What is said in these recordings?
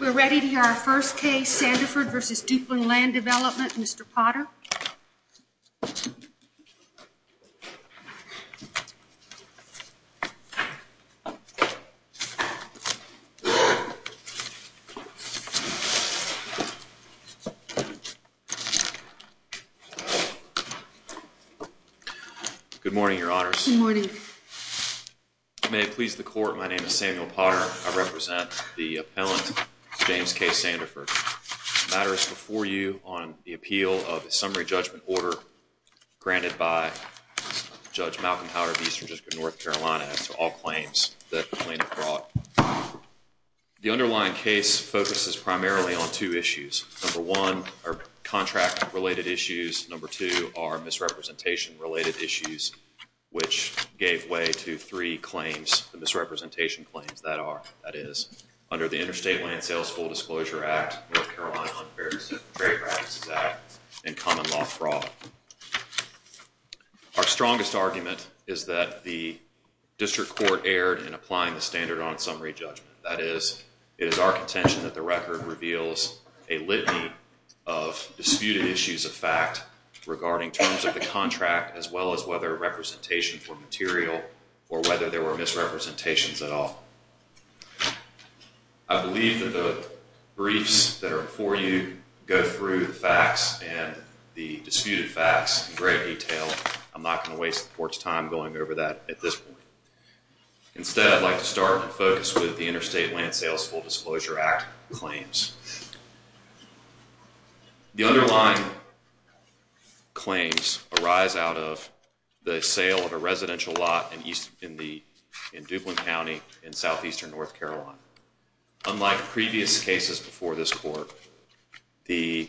We're ready to hear our first case, Sanderford v. Duplin Land Development, Mr. Potter. Good morning, Your Honors. Good morning. May it please the Court, my name is Samuel Potter. I represent the appellant, James K. Sanderford. The matter is before you on the appeal of a summary judgment order granted by Judge Malcolm Howard v. Eastern District of North Carolina as to all claims that the plaintiff brought. The underlying case focuses primarily on two issues. Number one are contract-related issues. Number two are misrepresentation-related issues, which gave way to three claims, the misrepresentation claims that are, that is, under the Interstate Land Sales Full Disclosure Act, North Carolina Unfair Trade Practices Act, and common law fraud. Our strongest argument is that the District Court erred in applying the standard on summary judgment. That is, it is our contention that the record reveals a litany of disputed issues of fact regarding terms of the contract as well as whether representation for material or whether there were misrepresentations at all. I believe that the briefs that are before you go through the facts and the disputed facts in great detail. I'm not going to waste the Court's time going over that at this point. Instead, I'd like to start and focus with the Interstate Land Sales Full Disclosure Act claims. The underlying claims arise out of the sale of a residential lot in East, in the, in Duplin County in southeastern North Carolina. Unlike previous cases before this Court, the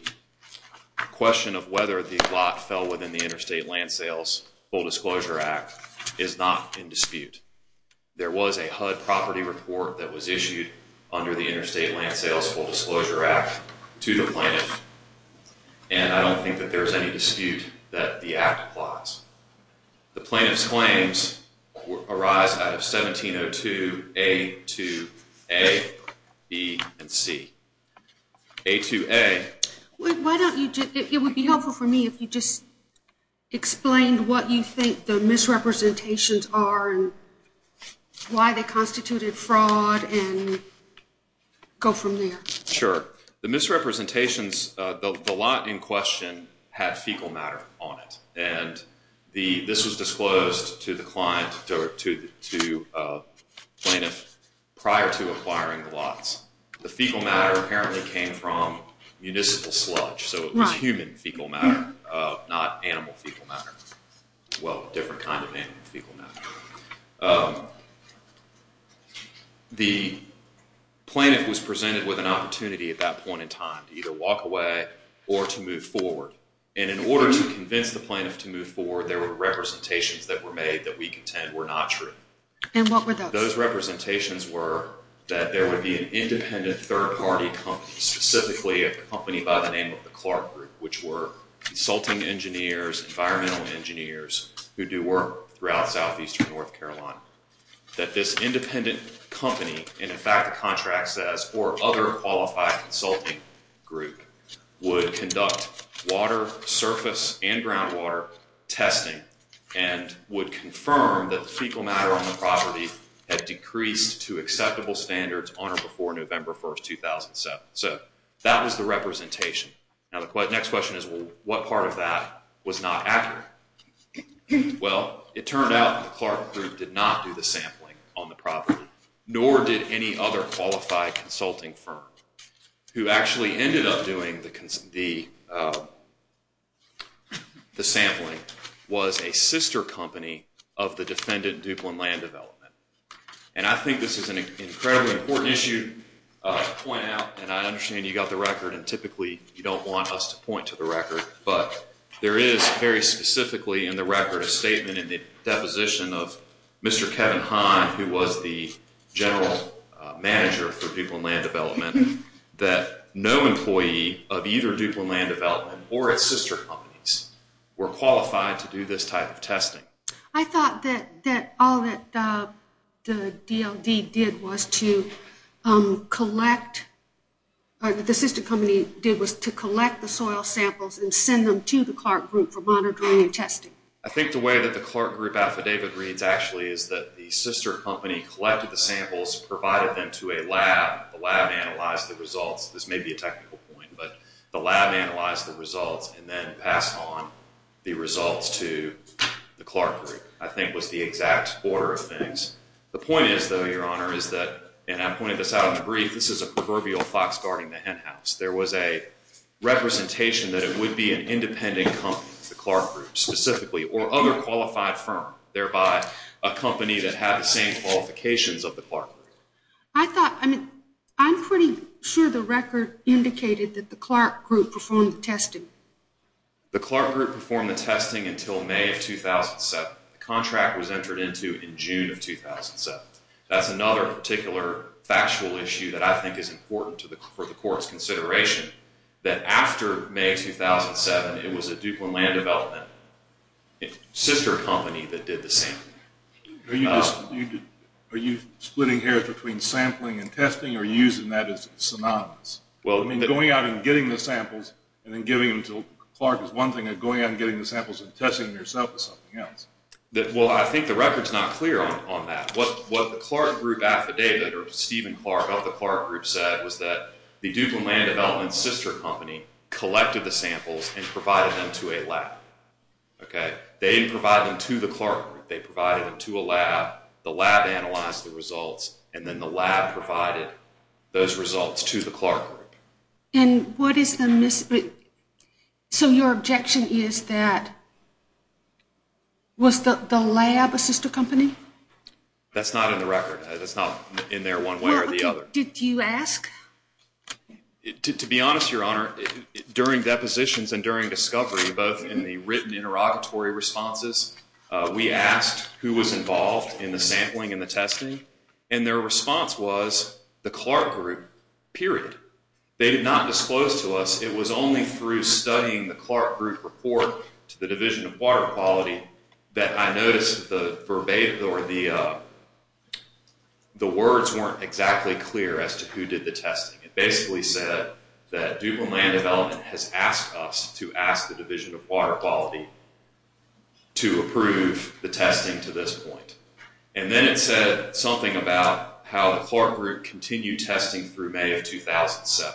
question of whether the lot fell within the Interstate Land Sales Full Disclosure Act is not in dispute. There was a HUD property report that was issued under the Interstate Land Sales Full Disclosure Act to the plaintiff, and I don't think that there's any dispute that the act applies. The plaintiff's claims arise out of 1702A, 2A, B, and C. A, 2A. Why don't you just, it would be helpful for me if you just explained what you think the misrepresentations are and why they constituted fraud and go from there. Sure. The misrepresentations, the lot in question had fecal matter on it, and this was disclosed to the client, to plaintiff prior to acquiring the lots. The fecal matter apparently came from municipal sludge, so it was human fecal matter, not animal fecal matter. Well, different kind of animal fecal matter. The plaintiff was presented with an opportunity at that point in time to either walk away or to move forward. And in order to convince the plaintiff to move forward, there were representations that were made that we contend were not true. And what were those? Those representations were that there would be an independent third-party company, specifically a company by the name of the Clark Group, which were consulting engineers, environmental engineers who do work throughout southeastern North Carolina, that this independent company, and in fact the contract says, or other qualified consulting group, would conduct water, surface, and groundwater testing and would confirm that the fecal matter on the property had decreased to acceptable standards on or before November 1, 2007. So, that was the representation. Now, the next question is, well, what part of that was not accurate? Well, it turned out the Clark Group did not do the sampling on the property, nor did any other qualified consulting firm, who actually ended up doing the sampling, was a sister company of the defendant, Duplin Land Development. And I think this is an incredibly important issue to point out, and I understand you got the record, and typically you don't want us to point to the record, but there is very specifically in the record a statement in the deposition of Mr. Kevin Hahn, who was the general manager for Duplin Land Development, that no employee of either Duplin Land Development or its sister companies were qualified to do this type of testing. I thought that all that the DLD did was to collect, or that the sister company did was to collect the soil samples and send them to the Clark Group for monitoring and testing. I think the way that the Clark Group affidavit reads, actually, is that the sister company collected the samples, provided them to a lab, the lab analyzed the results, this may be a technical point, but the lab analyzed the results and then passed on the results to the Clark Group, I think was the exact order of things. The point is, though, Your Honor, is that, and I pointed this out in the brief, this is a proverbial fox guarding the hen house. There was a representation that it would be an independent company, the Clark Group specifically, or other qualified firm, thereby a company that had the same qualifications of the Clark Group. I thought, I mean, I'm pretty sure the record indicated that the Clark Group performed the testing. The Clark Group performed the testing until May of 2007. The contract was entered into in June of 2007. That's another particular factual issue that I think is important for the Court's consideration, that after May of 2007, it was a Duplin Land Development sister company that did the sampling. Are you splitting hairs between sampling and testing, or are you using that as synonymous? I mean, going out and getting the samples and then giving them to Clark is one thing, and going out and getting the samples and testing them yourself is something else. Well, I think the record's not clear on that. What the Clark Group affidavit, or Stephen Clark of the Clark Group said, was that the Duplin Land Development sister company collected the samples and provided them to a lab. They didn't provide them to the Clark Group. They provided them to a lab. The lab analyzed the results, and then the lab provided those results to the Clark Group. And what is the mystery? So your objection is that was the lab a sister company? That's not in the record. That's not in there one way or the other. Did you ask? To be honest, Your Honor, during depositions and during discovery, both in the written interrogatory responses, we asked who was involved in the sampling and the testing, and their response was the Clark Group, period. They did not disclose to us. It was only through studying the Clark Group report to the Division of Water Quality that I noticed the words weren't exactly clear as to who did the testing. It basically said that Duplin Land Development has asked us to ask the Division of Water Quality to approve the testing to this point. And then it said something about how the Clark Group continued testing through May of 2007.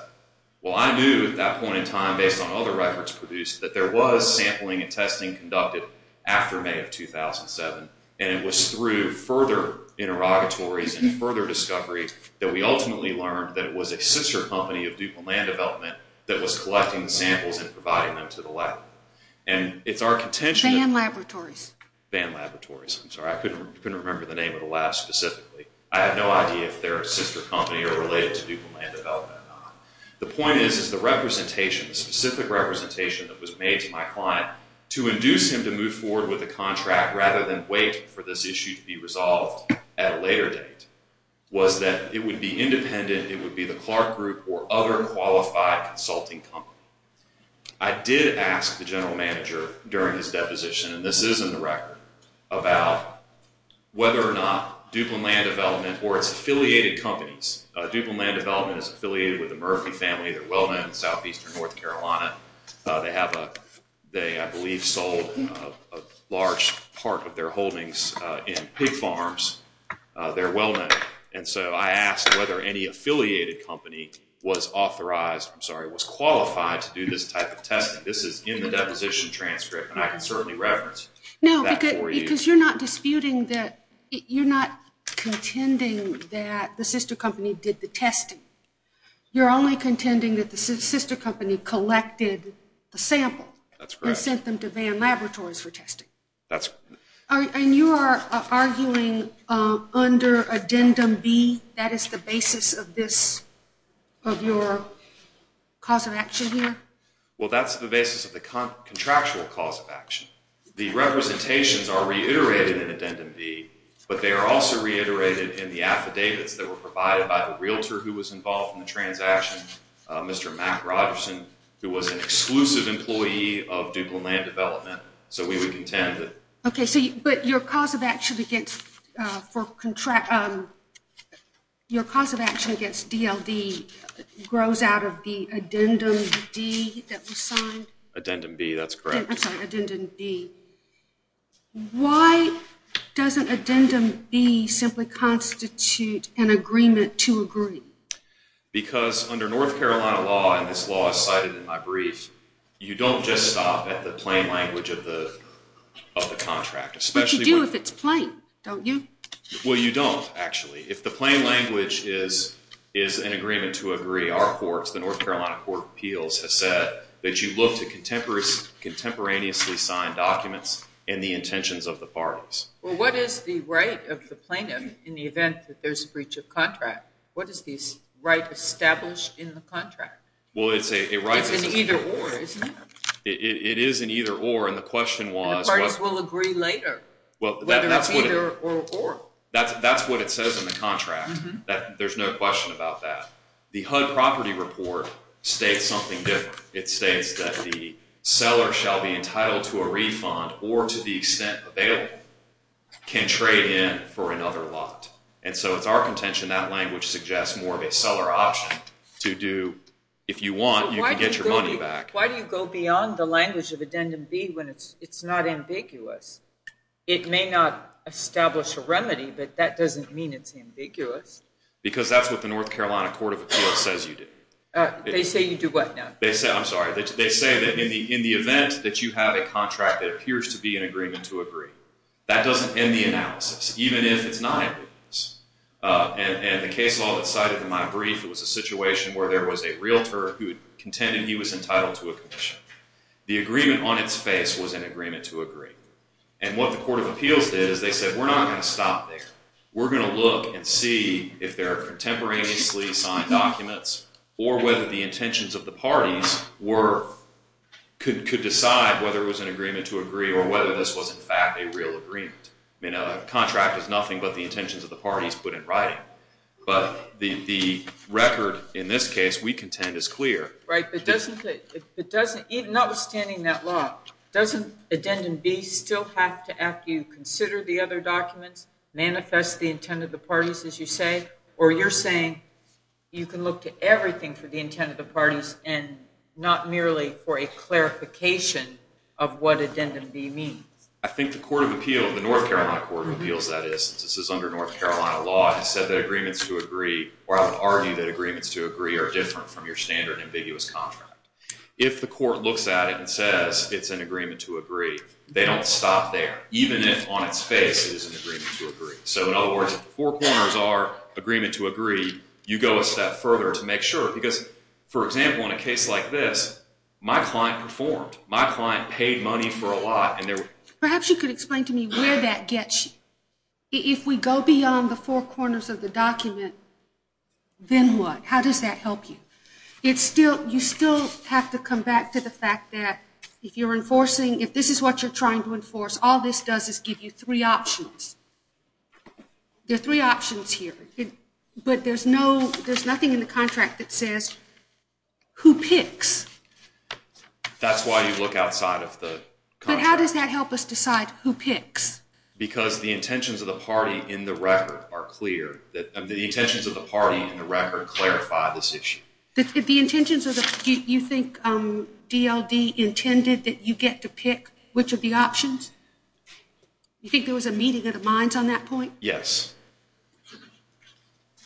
Well, I knew at that point in time, based on other records produced, that there was sampling and testing conducted after May of 2007, and it was through further interrogatories and further discovery that we ultimately learned that it was a sister company of Duplin Land Development that was collecting samples and providing them to the lab. And it's our contention that... Van laboratories. Van laboratories. I'm sorry, I couldn't remember the name of the lab specifically. I have no idea if they're a sister company or related to Duplin Land Development or not. The point is, is the representation, the specific representation that was made to my client to induce him to move forward with the contract rather than wait for this issue to be resolved at a later date, was that it would be independent, it would be the Clark Group or other qualified consulting company. I did ask the general manager during his deposition, and this is in the record, about whether or not Duplin Land Development or its affiliated companies... Duplin Land Development is affiliated with the Murphy family. They're well-known in southeastern North Carolina. They have a... they, I believe, sold a large part of their holdings in pig farms. They're well-known. And so I asked whether any affiliated company was authorized... I'm sorry, was qualified to do this type of testing. This is in the deposition transcript, and I can certainly reference that for you. No, because you're not disputing that... you're not contending that the sister company did the testing. You're only contending that the sister company collected the sample... That's correct. ...and sent them to Van Laboratories for testing. That's... And you are arguing under Addendum B, that is the basis of this, of your cause of action here? Well, that's the basis of the contractual cause of action. The representations are reiterated in Addendum B, but they are also reiterated in the affidavits that were provided by the realtor who was involved in the transaction, Mr. Mack Rogerson, who was an exclusive employee of Duplin Land Development. So we would contend that... Okay, but your cause of action against DLD grows out of the Addendum D that was signed? Addendum B, that's correct. I'm sorry, Addendum B. Why doesn't Addendum B simply constitute an agreement to agree? Because under North Carolina law, and this law is cited in my brief, you don't just stop at the plain language of the contract, especially when... But you do if it's plain, don't you? Well, you don't, actually. If the plain language is an agreement to agree, our courts, the North Carolina Court of Appeals, has said that you look to contemporaneously signed documents and the intentions of the parties. Well, what is the right of the plaintiff in the event that there's a breach of contract? What is the right established in the contract? It's an either or, isn't it? It is an either or, and the question was... And the parties will agree later whether it's either or. That's what it says in the contract. There's no question about that. The HUD property report states something different. It states that the seller shall be entitled to a refund or, to the extent available, can trade in for another lot. And so it's our contention that language suggests more of a seller option to do... If you want, you can get your money back. Why do you go beyond the language of Addendum B when it's not ambiguous? It may not establish a remedy, but that doesn't mean it's ambiguous. Because that's what the North Carolina Court of Appeals says you do. They say you do what now? I'm sorry. They say that in the event that you have a contract that appears to be an agreement to agree, that doesn't end the analysis, even if it's not ambiguous. And the case law that's cited in my brief, it was a situation where there was a realtor who contended he was entitled to a commission. The agreement on its face was an agreement to agree. And what the Court of Appeals did is they said, we're not going to stop there. We're going to look and see if there are contemporaneously signed documents or whether the intentions of the parties could decide whether it was an agreement to agree or whether this was, in fact, a real agreement. I mean, a contract is nothing but the intentions of the parties put in writing. But the record in this case we contend is clear. Right, but even notwithstanding that law, doesn't Addendum B still have to, after you consider the other documents, manifest the intent of the parties, as you say? Or you're saying you can look to everything for the intent of the parties and not merely for a clarification of what Addendum B means? I think the Court of Appeals, the North Carolina Court of Appeals, that is, since this is under North Carolina law, has said that agreements to agree, or I would argue that agreements to agree are different from your standard ambiguous contract. If the court looks at it and says it's an agreement to agree, they don't stop there. Even if on its face it is an agreement to agree. So, in other words, if the four corners are agreement to agree, you go a step further to make sure. Because, for example, in a case like this, my client performed. My client paid money for a lot. Perhaps you could explain to me where that gets you. If we go beyond the four corners of the document, then what? How does that help you? You still have to come back to the fact that if you're enforcing, if this is what you're trying to enforce, all this does is give you three options. There are three options here. But there's nothing in the contract that says who picks. That's why you look outside of the contract. But how does that help us decide who picks? Because the intentions of the party in the record are clear. The intentions of the party in the record clarify this issue. Do you think DLD intended that you get to pick which of the options? Do you think there was a meeting of the minds on that point? Yes.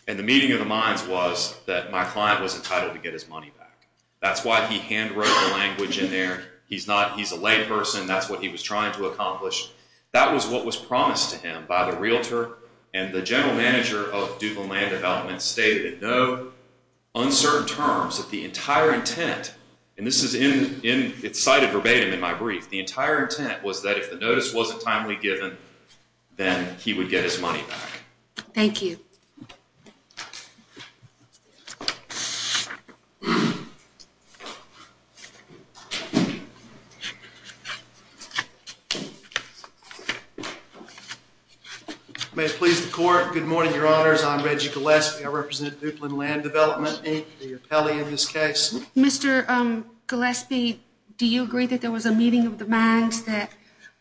And the meeting of the minds was that my client was entitled to get his money back. That's why he hand wrote the language in there. He's a layperson. That's what he was trying to accomplish. That was what was promised to him by the realtor. And the general manager of Duval Land Development stated in no uncertain terms that the entire intent, and this is cited verbatim in my brief, the entire intent was that if the notice wasn't timely given, then he would get his money back. Thank you. Thank you. May it please the court. Good morning, Your Honors. I'm Reggie Gillespie. I represent Duplin Land Development, the appellee in this case. Mr. Gillespie, do you agree that there was a meeting of the minds that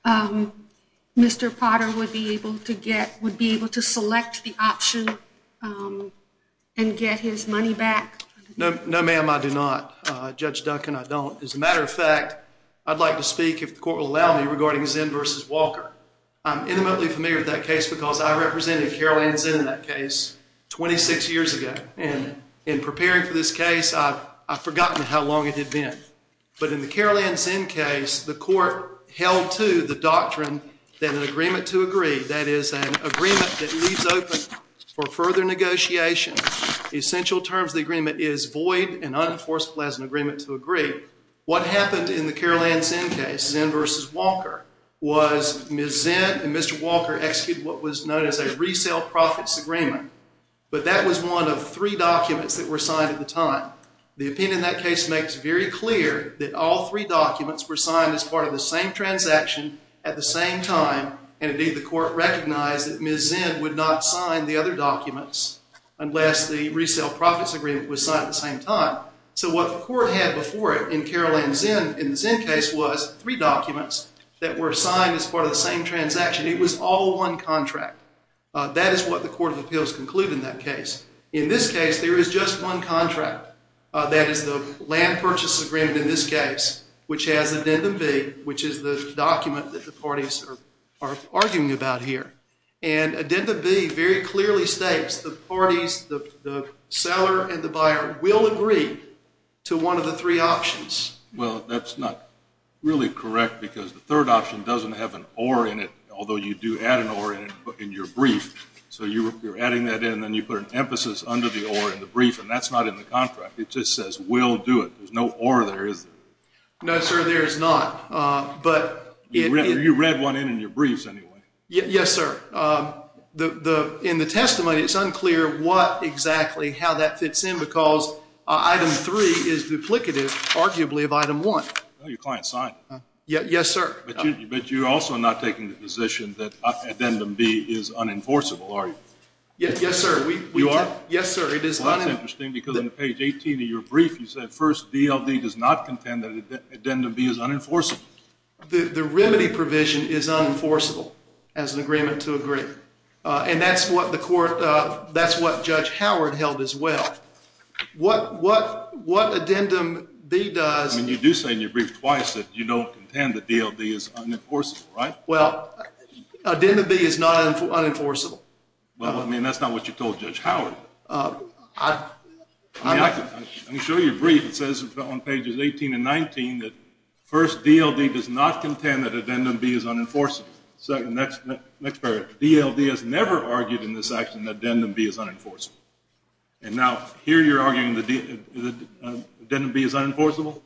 Mr. Potter would be able to get, would be able to select the option and get his money back? No, ma'am, I do not. Judge Duncan, I don't. As a matter of fact, I'd like to speak, if the court will allow me, regarding Zinn v. Walker. I'm intimately familiar with that case because I represented Carol Ann Zinn in that case 26 years ago. And in preparing for this case, I've forgotten how long it had been. But in the Carol Ann Zinn case, the court held to the doctrine that an agreement to agree, that is an agreement that leaves open for further negotiation, the essential terms of the agreement is void and unenforceable as an agreement to agree. What happened in the Carol Ann Zinn case, Zinn v. Walker, was Ms. Zinn and Mr. Walker executed what was known as a resale profits agreement. But that was one of three documents that were signed at the time. The opinion in that case makes very clear that all three documents were signed as part of the same transaction at the same time, and indeed the court recognized that Ms. Zinn would not sign the other documents unless the resale profits agreement was signed at the same time. So what the court had before it in Carol Ann Zinn, in the Zinn case, was three documents that were signed as part of the same transaction. It was all one contract. That is what the court of appeals concluded in that case. In this case, there is just one contract. That is the land purchase agreement in this case, which has addendum B, which is the document that the parties are arguing about here. And addendum B very clearly states the parties, the seller and the buyer, will agree to one of the three options. Well, that's not really correct because the third option doesn't have an or in it, in your brief, so you're adding that in and you put an emphasis under the or in the brief, and that's not in the contract. It just says we'll do it. There's no or there, is there? No, sir, there is not. You read one in in your briefs anyway. Yes, sir. In the testimony, it's unclear what exactly, how that fits in, because item three is duplicative, arguably, of item one. No, your client signed it. Yes, sir. But you're also not taking the position that addendum B is unenforceable, are you? Yes, sir. You are? Yes, sir, it is unenforceable. Well, that's interesting because on page 18 of your brief, you said, first, DLD does not contend that addendum B is unenforceable. The remedy provision is unenforceable as an agreement to agree. And that's what the court, that's what Judge Howard held as well. What addendum B does. I mean, you do say in your brief twice that you don't contend that DLD is unenforceable, right? Well, addendum B is not unenforceable. Well, I mean, that's not what you told Judge Howard. I mean, I can show you a brief that says on pages 18 and 19 that, first, DLD does not contend that addendum B is unenforceable. Next paragraph, DLD has never argued in this action that addendum B is unenforceable. And now here you're arguing that addendum B is unenforceable?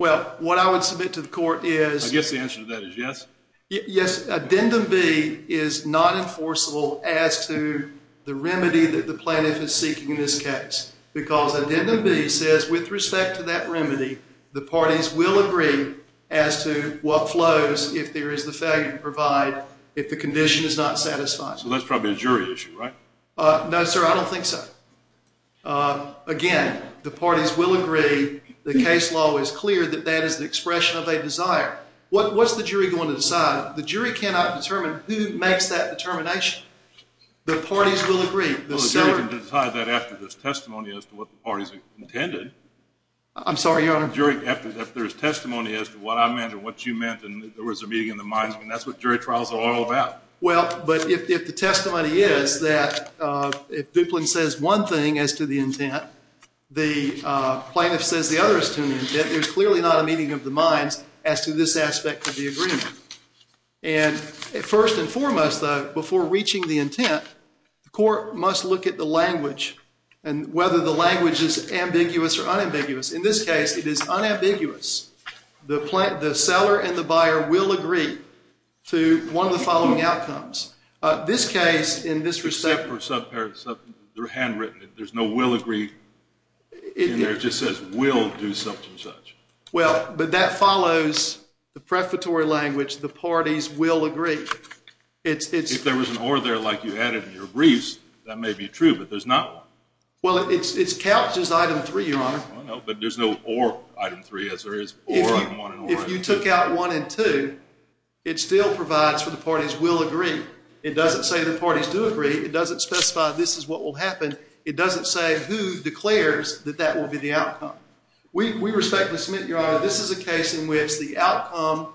Well, what I would submit to the court is. I guess the answer to that is yes. Yes, addendum B is not enforceable as to the remedy that the plaintiff is seeking in this case because addendum B says with respect to that remedy, the parties will agree as to what flows if there is the failure to provide if the condition is not satisfied. So that's probably a jury issue, right? No, sir, I don't think so. Again, the parties will agree. The case law is clear that that is the expression of a desire. What's the jury going to decide? The jury cannot determine who makes that determination. The parties will agree. Well, the jury can decide that after there's testimony as to what the parties intended. I'm sorry, Your Honor. After there's testimony as to what I meant and what you meant, and there was a meeting in the minds, and that's what jury trials are all about. Well, but if the testimony is that if Duplin says one thing as to the intent, the plaintiff says the other as to the intent, there's clearly not a meeting of the minds as to this aspect of the agreement. And first and foremost, though, before reaching the intent, the court must look at the language and whether the language is ambiguous or unambiguous. In this case, it is unambiguous. The seller and the buyer will agree to one of the following outcomes. This case, in this reception. There's no will agree in there. It just says will do such and such. Well, but that follows the prefatory language, the parties will agree. If there was an or there like you added in your briefs, that may be true, but there's not one. Well, it's couched as item three, Your Honor. Well, no, but there's no or item three as there is or item one and or. If you took out one and two, it still provides for the parties will agree. It doesn't say the parties do agree. It doesn't specify this is what will happen. It doesn't say who declares that that will be the outcome. We respectfully submit, Your Honor, this is a case in which the outcome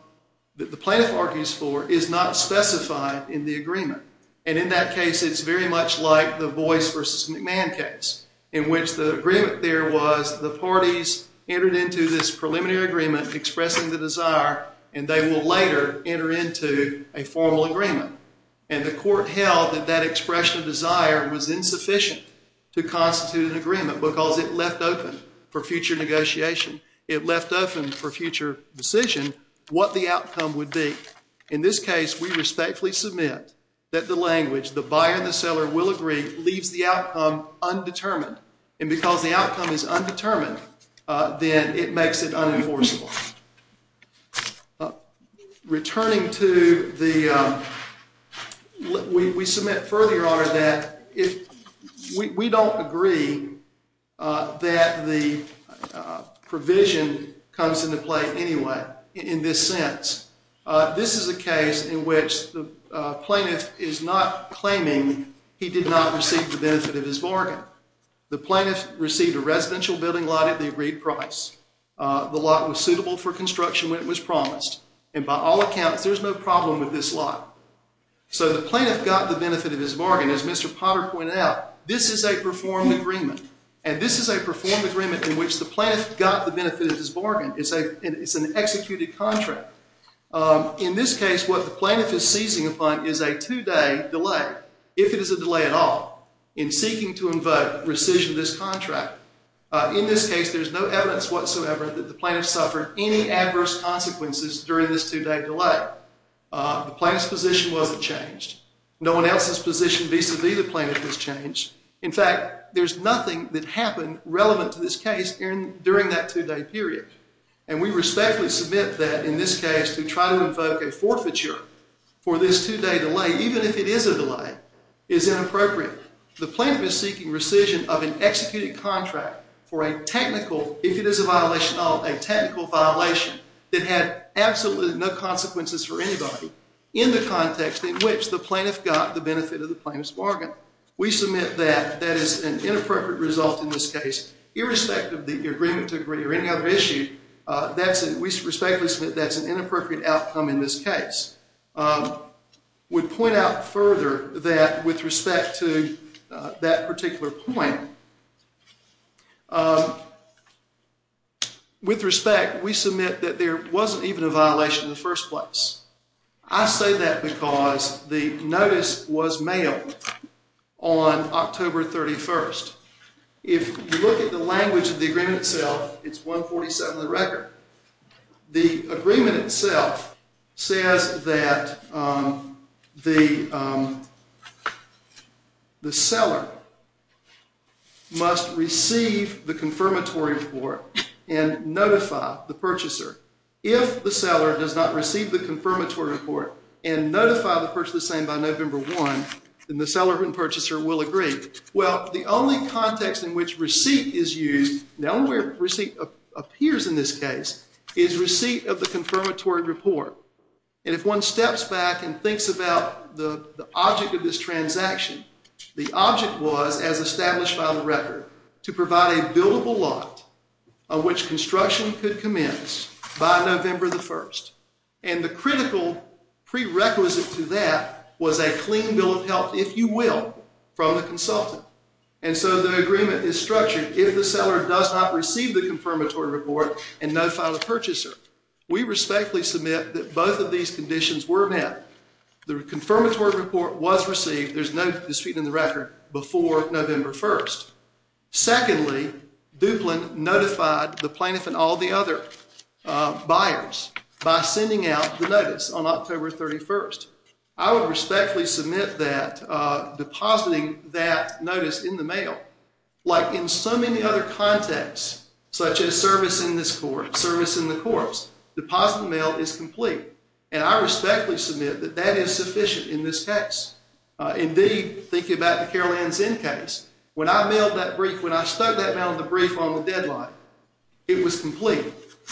that the plaintiff argues for is not specified in the agreement. And in that case, it's very much like the Boyce v. McMahon case in which the agreement there was the parties entered into this preliminary agreement expressing the desire, and they will later enter into a formal agreement. And the court held that that expression of desire was insufficient to constitute an agreement because it left open for future negotiation. It left open for future decision what the outcome would be. In this case, we respectfully submit that the language, the buyer and the seller will agree, leaves the outcome undetermined. And because the outcome is undetermined, then it makes it unenforceable. Returning to the, we submit further, Your Honor, that we don't agree that the provision comes into play anyway in this sense. This is a case in which the plaintiff is not claiming he did not receive the benefit of his bargain. The plaintiff received a residential building lot at the agreed price. The lot was suitable for construction when it was promised. And by all accounts, there's no problem with this lot. So the plaintiff got the benefit of his bargain. As Mr. Potter pointed out, this is a performed agreement. And this is a performed agreement in which the plaintiff got the benefit of his bargain. It's an executed contract. In this case, what the plaintiff is seizing upon is a two-day delay, if it is a delay at all, in seeking to invoke rescission of this contract. In this case, there's no evidence whatsoever that the plaintiff suffered any adverse consequences during this two-day delay. The plaintiff's position wasn't changed. No one else's position vis-a-vis the plaintiff was changed. In fact, there's nothing that happened relevant to this case during that two-day period. And we respectfully submit that in this case to try to invoke a forfeiture for this two-day delay, even if it is a delay, is inappropriate. The plaintiff is seeking rescission of an executed contract for a technical, if it is a violation at all, a technical violation that had absolutely no consequences for anybody, in the context in which the plaintiff got the benefit of the plaintiff's bargain. We submit that that is an inappropriate result in this case, irrespective of the agreement to agree or any other issue. We respectfully submit that's an inappropriate outcome in this case. We point out further that with respect to that particular point, with respect, we submit that there wasn't even a violation in the first place. I say that because the notice was mailed on October 31st. If you look at the language of the agreement itself, it's 147 of the record. The agreement itself says that the seller must receive the confirmatory report and notify the purchaser. If the seller does not receive the confirmatory report and notify the purchaser by November 1, then the seller and purchaser will agree. Well, the only context in which receipt is used, the only way receipt appears in this case, is receipt of the confirmatory report. And if one steps back and thinks about the object of this transaction, the object was, as established by the record, to provide a buildable lot on which construction could commence by November 1. And the critical prerequisite to that was a clean bill of health, if you will, from the consultant. And so the agreement is structured, if the seller does not receive the confirmatory report and notify the purchaser, we respectfully submit that both of these conditions were met. The confirmatory report was received, there's no dispute in the record, before November 1. Secondly, Duplin notified the plaintiff and all the other buyers by sending out the notice on October 31st. I would respectfully submit that depositing that notice in the mail, like in so many other contexts, such as service in this court, service in the courts, deposit in the mail is complete. And I respectfully submit that that is sufficient in this case. Indeed, think about the Carol Ann Zinn case. When I mailed that brief, when I stuck that mail in the brief on the deadline, it was complete.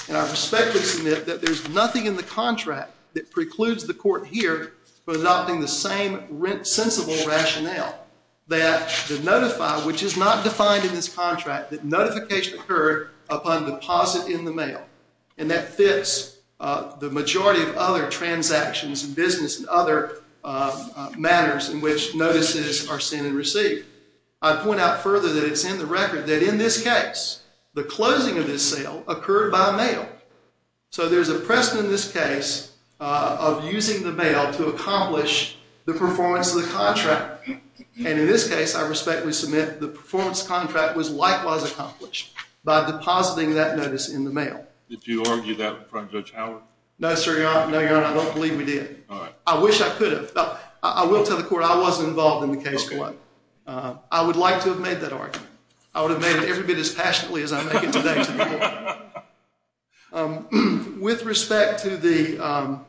And I respectfully submit that there's nothing in the contract that precludes the court here from adopting the same sensible rationale, that the notify, which is not defined in this contract, that notification occurred upon deposit in the mail. And that fits the majority of other transactions and business and other matters in which notices are sent and received. I'd point out further that it's in the record that in this case, the closing of this sale occurred by mail. So there's a precedent in this case of using the mail to accomplish the performance of the contract. And in this case, I respectfully submit the performance contract was likewise accomplished by depositing that notice in the mail. Did you argue that in front of Judge Howard? No, sir. No, Your Honor, I don't believe we did. I wish I could have. I will tell the court I wasn't involved in the case. I would like to have made that argument. I would have made it every bit as passionately as I make it today to the court. With respect to the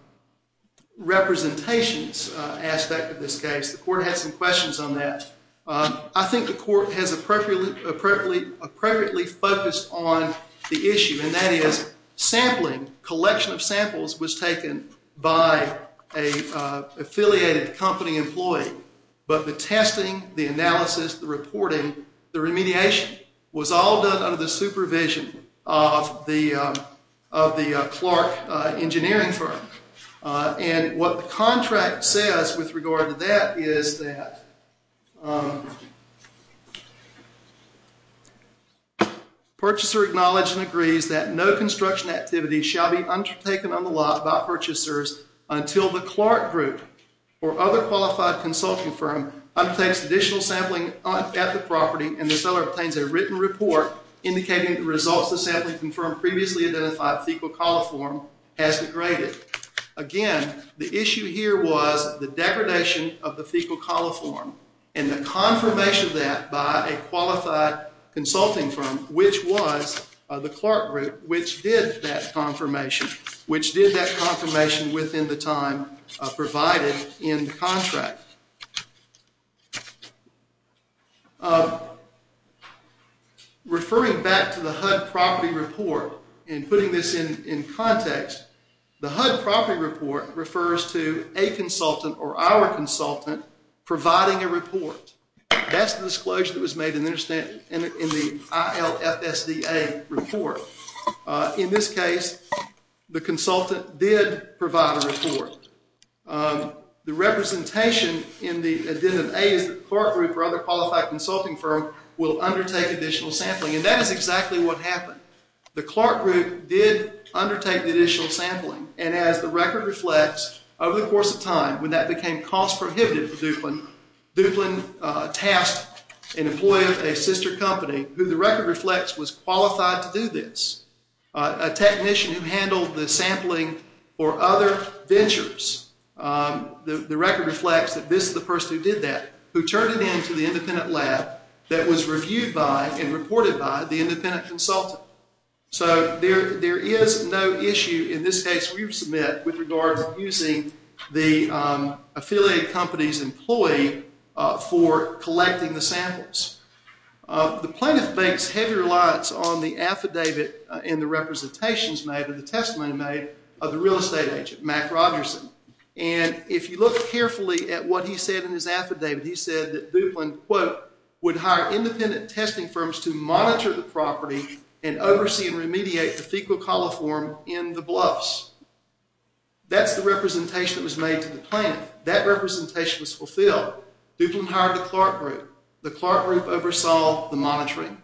representations aspect of this case, the court had some questions on that. I think the court has appropriately focused on the issue, and that is sampling. Collection of samples was taken by an affiliated company employee. But the testing, the analysis, the reporting, the remediation was all done under the supervision of the Clark engineering firm. And what the contract says with regard to that is that additional sampling at the property and the seller obtains a written report indicating the results of sampling confirmed previously identified fecal coliform has degraded. Again, the issue here was the degradation of the fecal coliform and the confirmation of that by a qualified consulting firm, which was the Clark group, which did that confirmation, which did that confirmation within the time provided in the contract. Referring back to the HUD property report and putting this in context, the HUD property report refers to a consultant or our consultant providing a report. That's the disclosure that was made in the ILFSDA report. In this case, the consultant did provide a report. The representation in the addendum A is that the Clark group or other qualified consulting firm will undertake additional sampling, and that is exactly what happened. The Clark group did undertake the additional sampling, and as the record reflects, over the course of time, when that became cost prohibitive to Duplin, Duplin tasked an employee of a sister company, who the record reflects was qualified to do this, a technician who handled the sampling or other ventures. The record reflects that this is the person who did that, who turned it into the independent lab that was reviewed by and reported by the independent consultant. So there is no issue in this case we've submitted with regards to using the affiliate company's employee for collecting the samples. The plaintiff makes heavy reliance on the affidavit and the representations made or the testimony made of the real estate agent, Mack Rogerson. And if you look carefully at what he said in his affidavit, he said that Duplin, quote, would hire independent testing firms to monitor the property and oversee and remediate the fecal coliform in the bluffs. That's the representation that was made to the plaintiff. That representation was fulfilled. Duplin hired the Clark group. The Clark group oversaw the monitoring.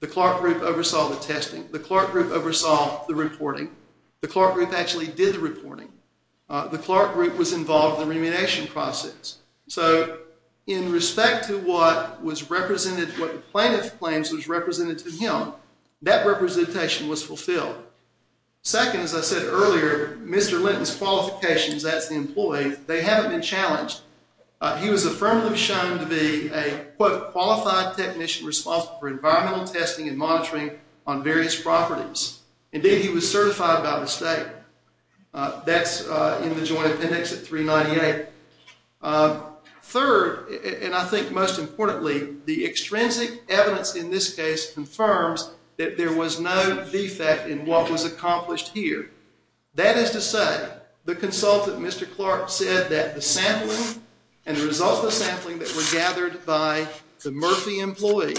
The Clark group oversaw the testing. The Clark group oversaw the reporting. The Clark group actually did the reporting. The Clark group was involved in the remuneration process. So in respect to what was represented, what the plaintiff claims was represented to him, that representation was fulfilled. Second, as I said earlier, Mr. Linton's qualifications as the employee, they haven't been challenged. He was affirmatively shown to be a, quote, qualified technician responsible for environmental testing and monitoring on various properties. Indeed, he was certified by the state. That's in the joint appendix at 398. Third, and I think most importantly, the extrinsic evidence in this case confirms that there was no defect in what was accomplished here. That is to say, the consultant, Mr. Clark, said that the sampling and the results of the sampling that were gathered by the Murphy employee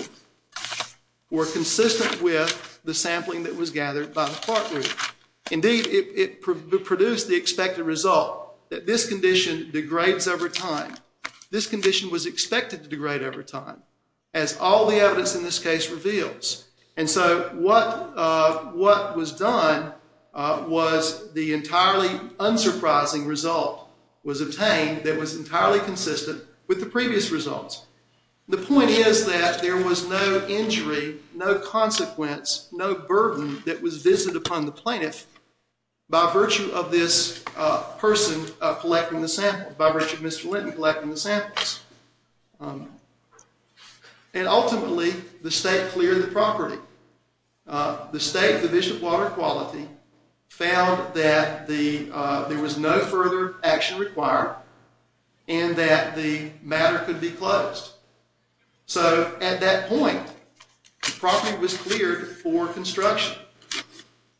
were consistent with the sampling that was gathered by the Clark group. Indeed, it produced the expected result that this condition degrades over time. This condition was expected to degrade over time, as all the evidence in this case reveals. And so what was done was the entirely unsurprising result was obtained that was entirely consistent with the previous results. The point is that there was no injury, no consequence, no burden that was visited upon the plaintiff by virtue of this person collecting the sample, by virtue of Mr. Linton collecting the samples. And ultimately, the state cleared the property. The state division of water quality found that there was no further action required and that the matter could be closed. So at that point, the property was cleared for construction.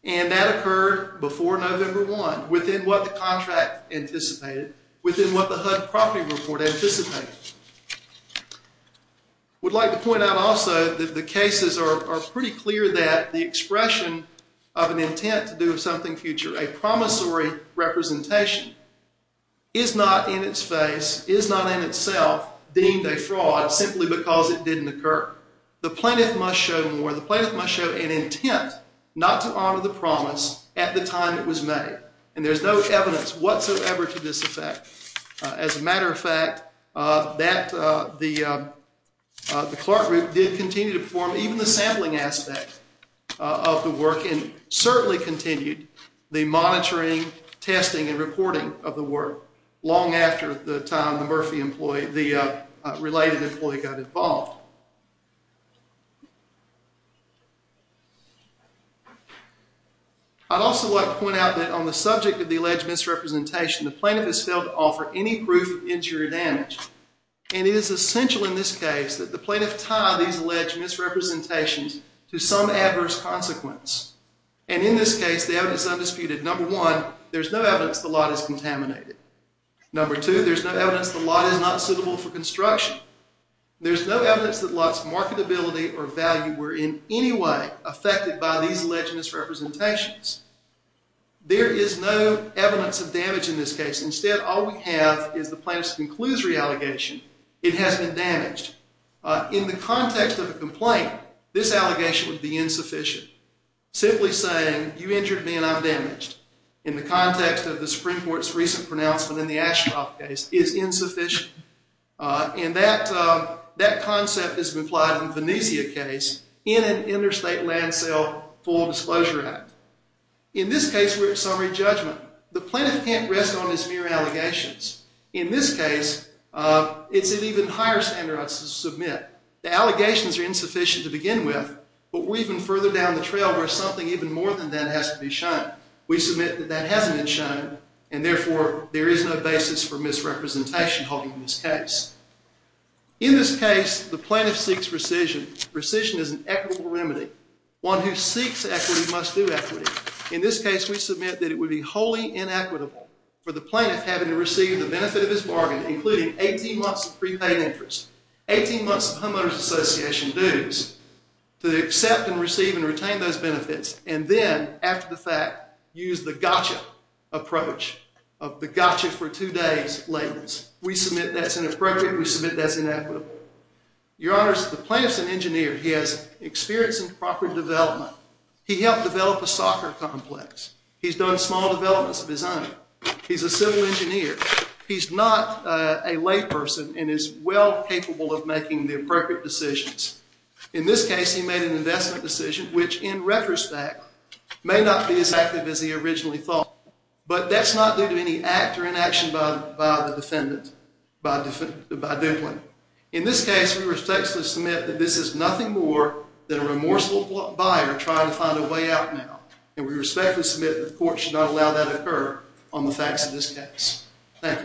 And that occurred before November 1, within what the contract anticipated, within what the HUD property report anticipated. I would like to point out also that the cases are pretty clear that the expression of an intent to do something future, a promissory representation, is not in its face, is not in itself, deemed a fraud simply because it didn't occur. The plaintiff must show more. The plaintiff must show an intent not to honor the promise at the time it was made. And there's no evidence whatsoever to this effect. As a matter of fact, the Clark group did continue to perform even the sampling aspect of the work and certainly continued the monitoring, testing, and reporting of the work long after the time the related employee got involved. I'd also like to point out that on the subject of the alleged misrepresentation, the plaintiff has failed to offer any proof of injury or damage. And it is essential in this case that the plaintiff tie these alleged misrepresentations to some adverse consequence. And in this case, the evidence is undisputed. Number one, there's no evidence the lot is contaminated. Number two, there's no evidence the lot is not suitable for construction. There's no evidence the lot's marketability or value were in any way affected by these alleged misrepresentations. There is no evidence of damage in this case. Instead, all we have is the plaintiff's conclusory allegation. It has been damaged. In the context of a complaint, this allegation would be insufficient. Simply saying, you injured me and I'm damaged, in the context of the Supreme Court's recent pronouncement in the Ashcroft case, is insufficient. And that concept has been applied in the Venezia case in an Interstate Land Sale Full Disclosure Act. In this case, we're at summary judgment. The plaintiff can't rest on his mere allegations. In this case, it's at even higher standards to submit. The allegations are insufficient to begin with, but we're even further down the trail where something even more than that has to be shown. We submit that that hasn't been shown, and therefore, there is no basis for misrepresentation holding this case. In this case, the plaintiff seeks rescission. Rescission is an equitable remedy. One who seeks equity must do equity. In this case, we submit that it would be wholly inequitable for the plaintiff having to receive the benefit of his bargain, including 18 months of prepaid interest, 18 months of homeowners association dues, to accept and receive and retain those benefits. And then, after the fact, use the gotcha approach of the gotcha for two days layman's. We submit that's inappropriate. We submit that's inequitable. Your Honors, the plaintiff's an engineer. He has experience in property development. He helped develop a soccer complex. He's done small developments of his own. He's a civil engineer. He's not a layperson and is well capable of making the appropriate decisions. In this case, he made an investment decision which, in retrospect, may not be as active as he originally thought. But that's not due to any act or inaction by the defendant, by Demplin. In this case, we respectfully submit that this is nothing more than a remorseful buyer trying to find a way out now. And we respectfully submit that the court should not allow that to occur on the facts of this case. Thank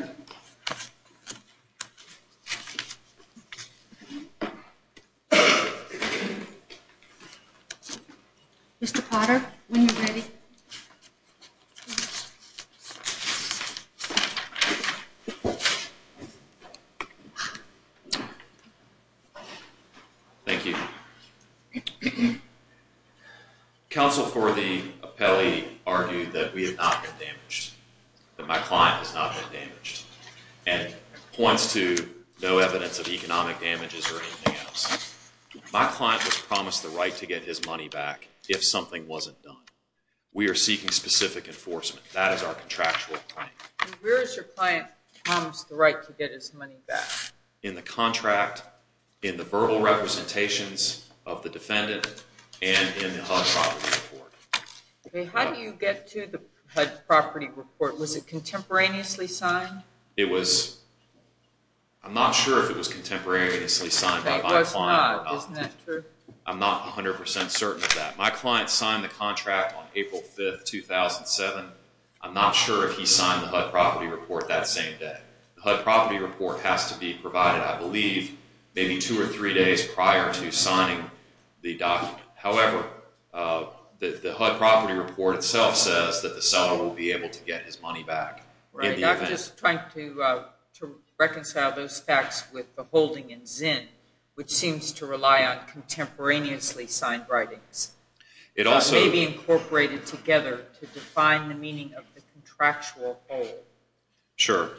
you. Mr. Potter, when you're ready. Thank you. Counsel for the appellee argued that we have not been damaged, that my client has not been damaged, and points to no evidence of economic damages or anything else. My client was promised the right to get his money back if something wasn't done. We are seeking specific enforcement. That is our contractual claim. Where has your client promised the right to get his money back? In the contract, in the verbal representations of the defendant, and in the HUD property report. How do you get to the HUD property report? Was it contemporaneously signed? I'm not sure if it was contemporaneously signed by my client or not. That was not, isn't that true? I'm not 100% certain of that. My client signed the contract on April 5, 2007. I'm not sure if he signed the HUD property report that same day. The HUD property report has to be provided, I believe, maybe two or three days prior to signing the document. However, the HUD property report itself says that the seller will be able to get his money back. Right, I'm just trying to reconcile those facts with the holding in Zinn, which seems to rely on contemporaneously signed writings, maybe incorporated together to define the meaning of the contractual hold. Sure.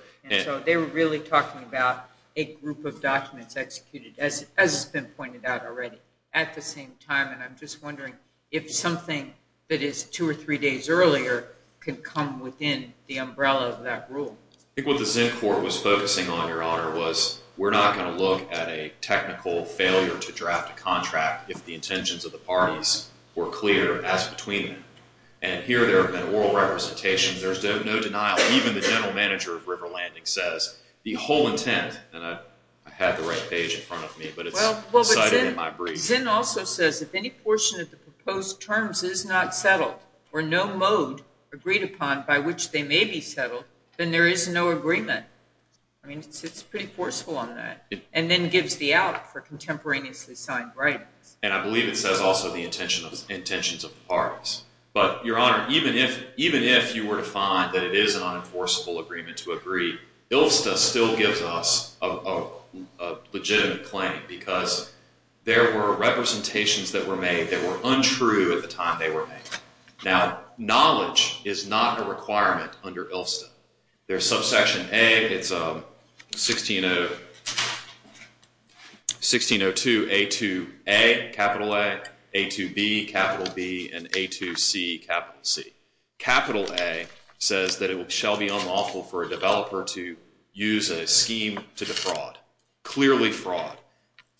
So they were really talking about a group of documents executed, as has been pointed out already, at the same time, and I'm just wondering if something that is two or three days earlier can come within the umbrella of that rule. I think what the Zinn court was focusing on, Your Honor, was we're not going to look at a technical failure to draft a contract if the intentions of the parties were clear as between them. And here there have been oral representations. There's no denial. Even the general manager of River Landing says the whole intent, and I had the right page in front of me, but it's cited in my brief. Zinn also says if any portion of the proposed terms is not settled or no mode agreed upon by which they may be settled, then there is no agreement. I mean, it's pretty forceful on that, and then gives the out for contemporaneously signed writings. And I believe it says also the intentions of the parties. But, Your Honor, even if you were to find that it is an unenforceable agreement to agree, ILFSTA still gives us a legitimate claim because there were representations that were made that were untrue at the time they were made. Now, knowledge is not a requirement under ILFSTA. There's subsection A. It's 1602A2A, capital A, A2B, capital B, and A2C, capital C. Capital A says that it shall be unlawful for a developer to use a scheme to defraud, clearly fraud.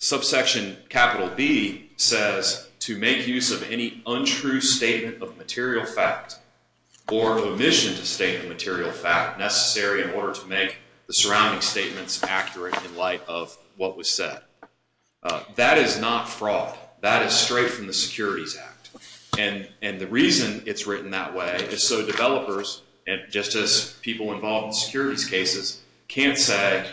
Subsection capital B says to make use of any untrue statement of material fact or omission to state a material fact necessary in order to make the surrounding statements accurate in light of what was said. That is not fraud. That is straight from the Securities Act. And the reason it's written that way is so developers, just as people involved in securities cases, can't say,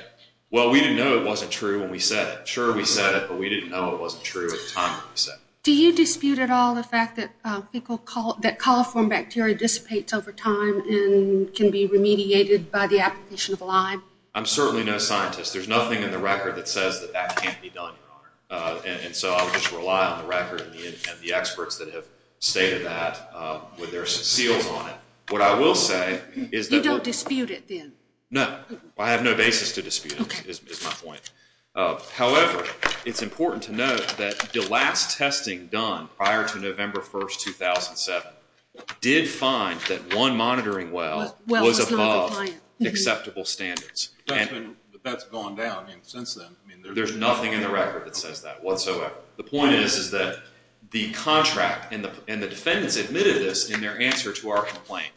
well, we didn't know it wasn't true when we said it. Sure, we said it, but we didn't know it wasn't true at the time that we said it. Do you dispute at all the fact that coliform bacteria dissipates over time and can be remediated by the application of lime? I'm certainly no scientist. There's nothing in the record that says that that can't be done, Your Honor. And so I'll just rely on the record and the experts that have stated that with their seals on it. What I will say is that what- You don't dispute it then? No. I have no basis to dispute it is my point. However, it's important to note that the last testing done prior to November 1, 2007, did find that one monitoring well was above acceptable standards. That's gone down since then. There's nothing in the record that says that whatsoever. The point is that the contract and the defendants admitted this in their answer to our complaint.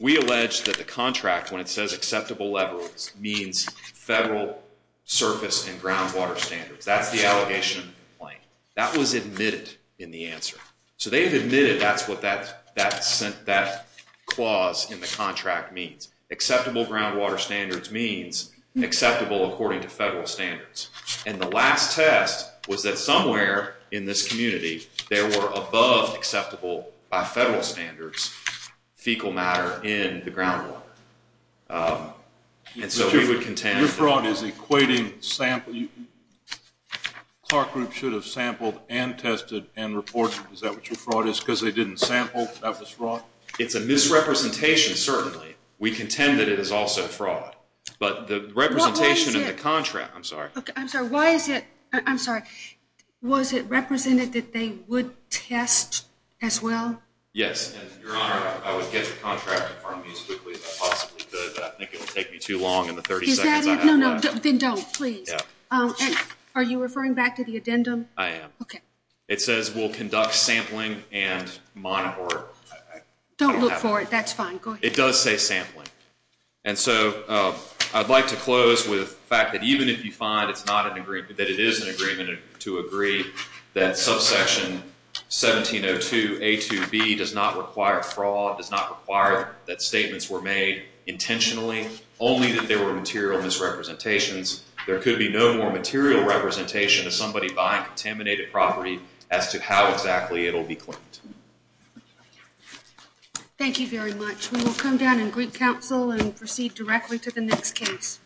We allege that the contract, when it says acceptable levels, means federal surface and groundwater standards. That's the allegation of the complaint. That was admitted in the answer. So they've admitted that's what that clause in the contract means. Acceptable groundwater standards means acceptable according to federal standards. And the last test was that somewhere in this community, there were above acceptable by federal standards fecal matter in the groundwater. And so we would contend- Your fraud is equating sample- Clark Group should have sampled and tested and reported. Is that what your fraud is? Because they didn't sample, that was fraud? It's a misrepresentation, certainly. We contend that it is also fraud. But the representation in the contract- Why is it- I'm sorry. I'm sorry. Why is it- I'm sorry. Was it represented that they would test as well? Yes. Your Honor, I would get your contract in front of me as quickly as I possibly could, but I think it would take me too long in the 30 seconds I have left. Is that it? No, no. Then don't, please. Are you referring back to the addendum? I am. Okay. It says we'll conduct sampling and monitor. Don't look for it. That's fine. Go ahead. It does say sampling. And so I'd like to close with the fact that even if you find that it is an agreement to agree that subsection 1702A2B does not require fraud, does not require that statements were made intentionally, only that there were material misrepresentations, there could be no more material representation of somebody buying contaminated property as to how exactly it will be claimed. Thank you very much. We will come down and greet counsel and proceed directly to the next case.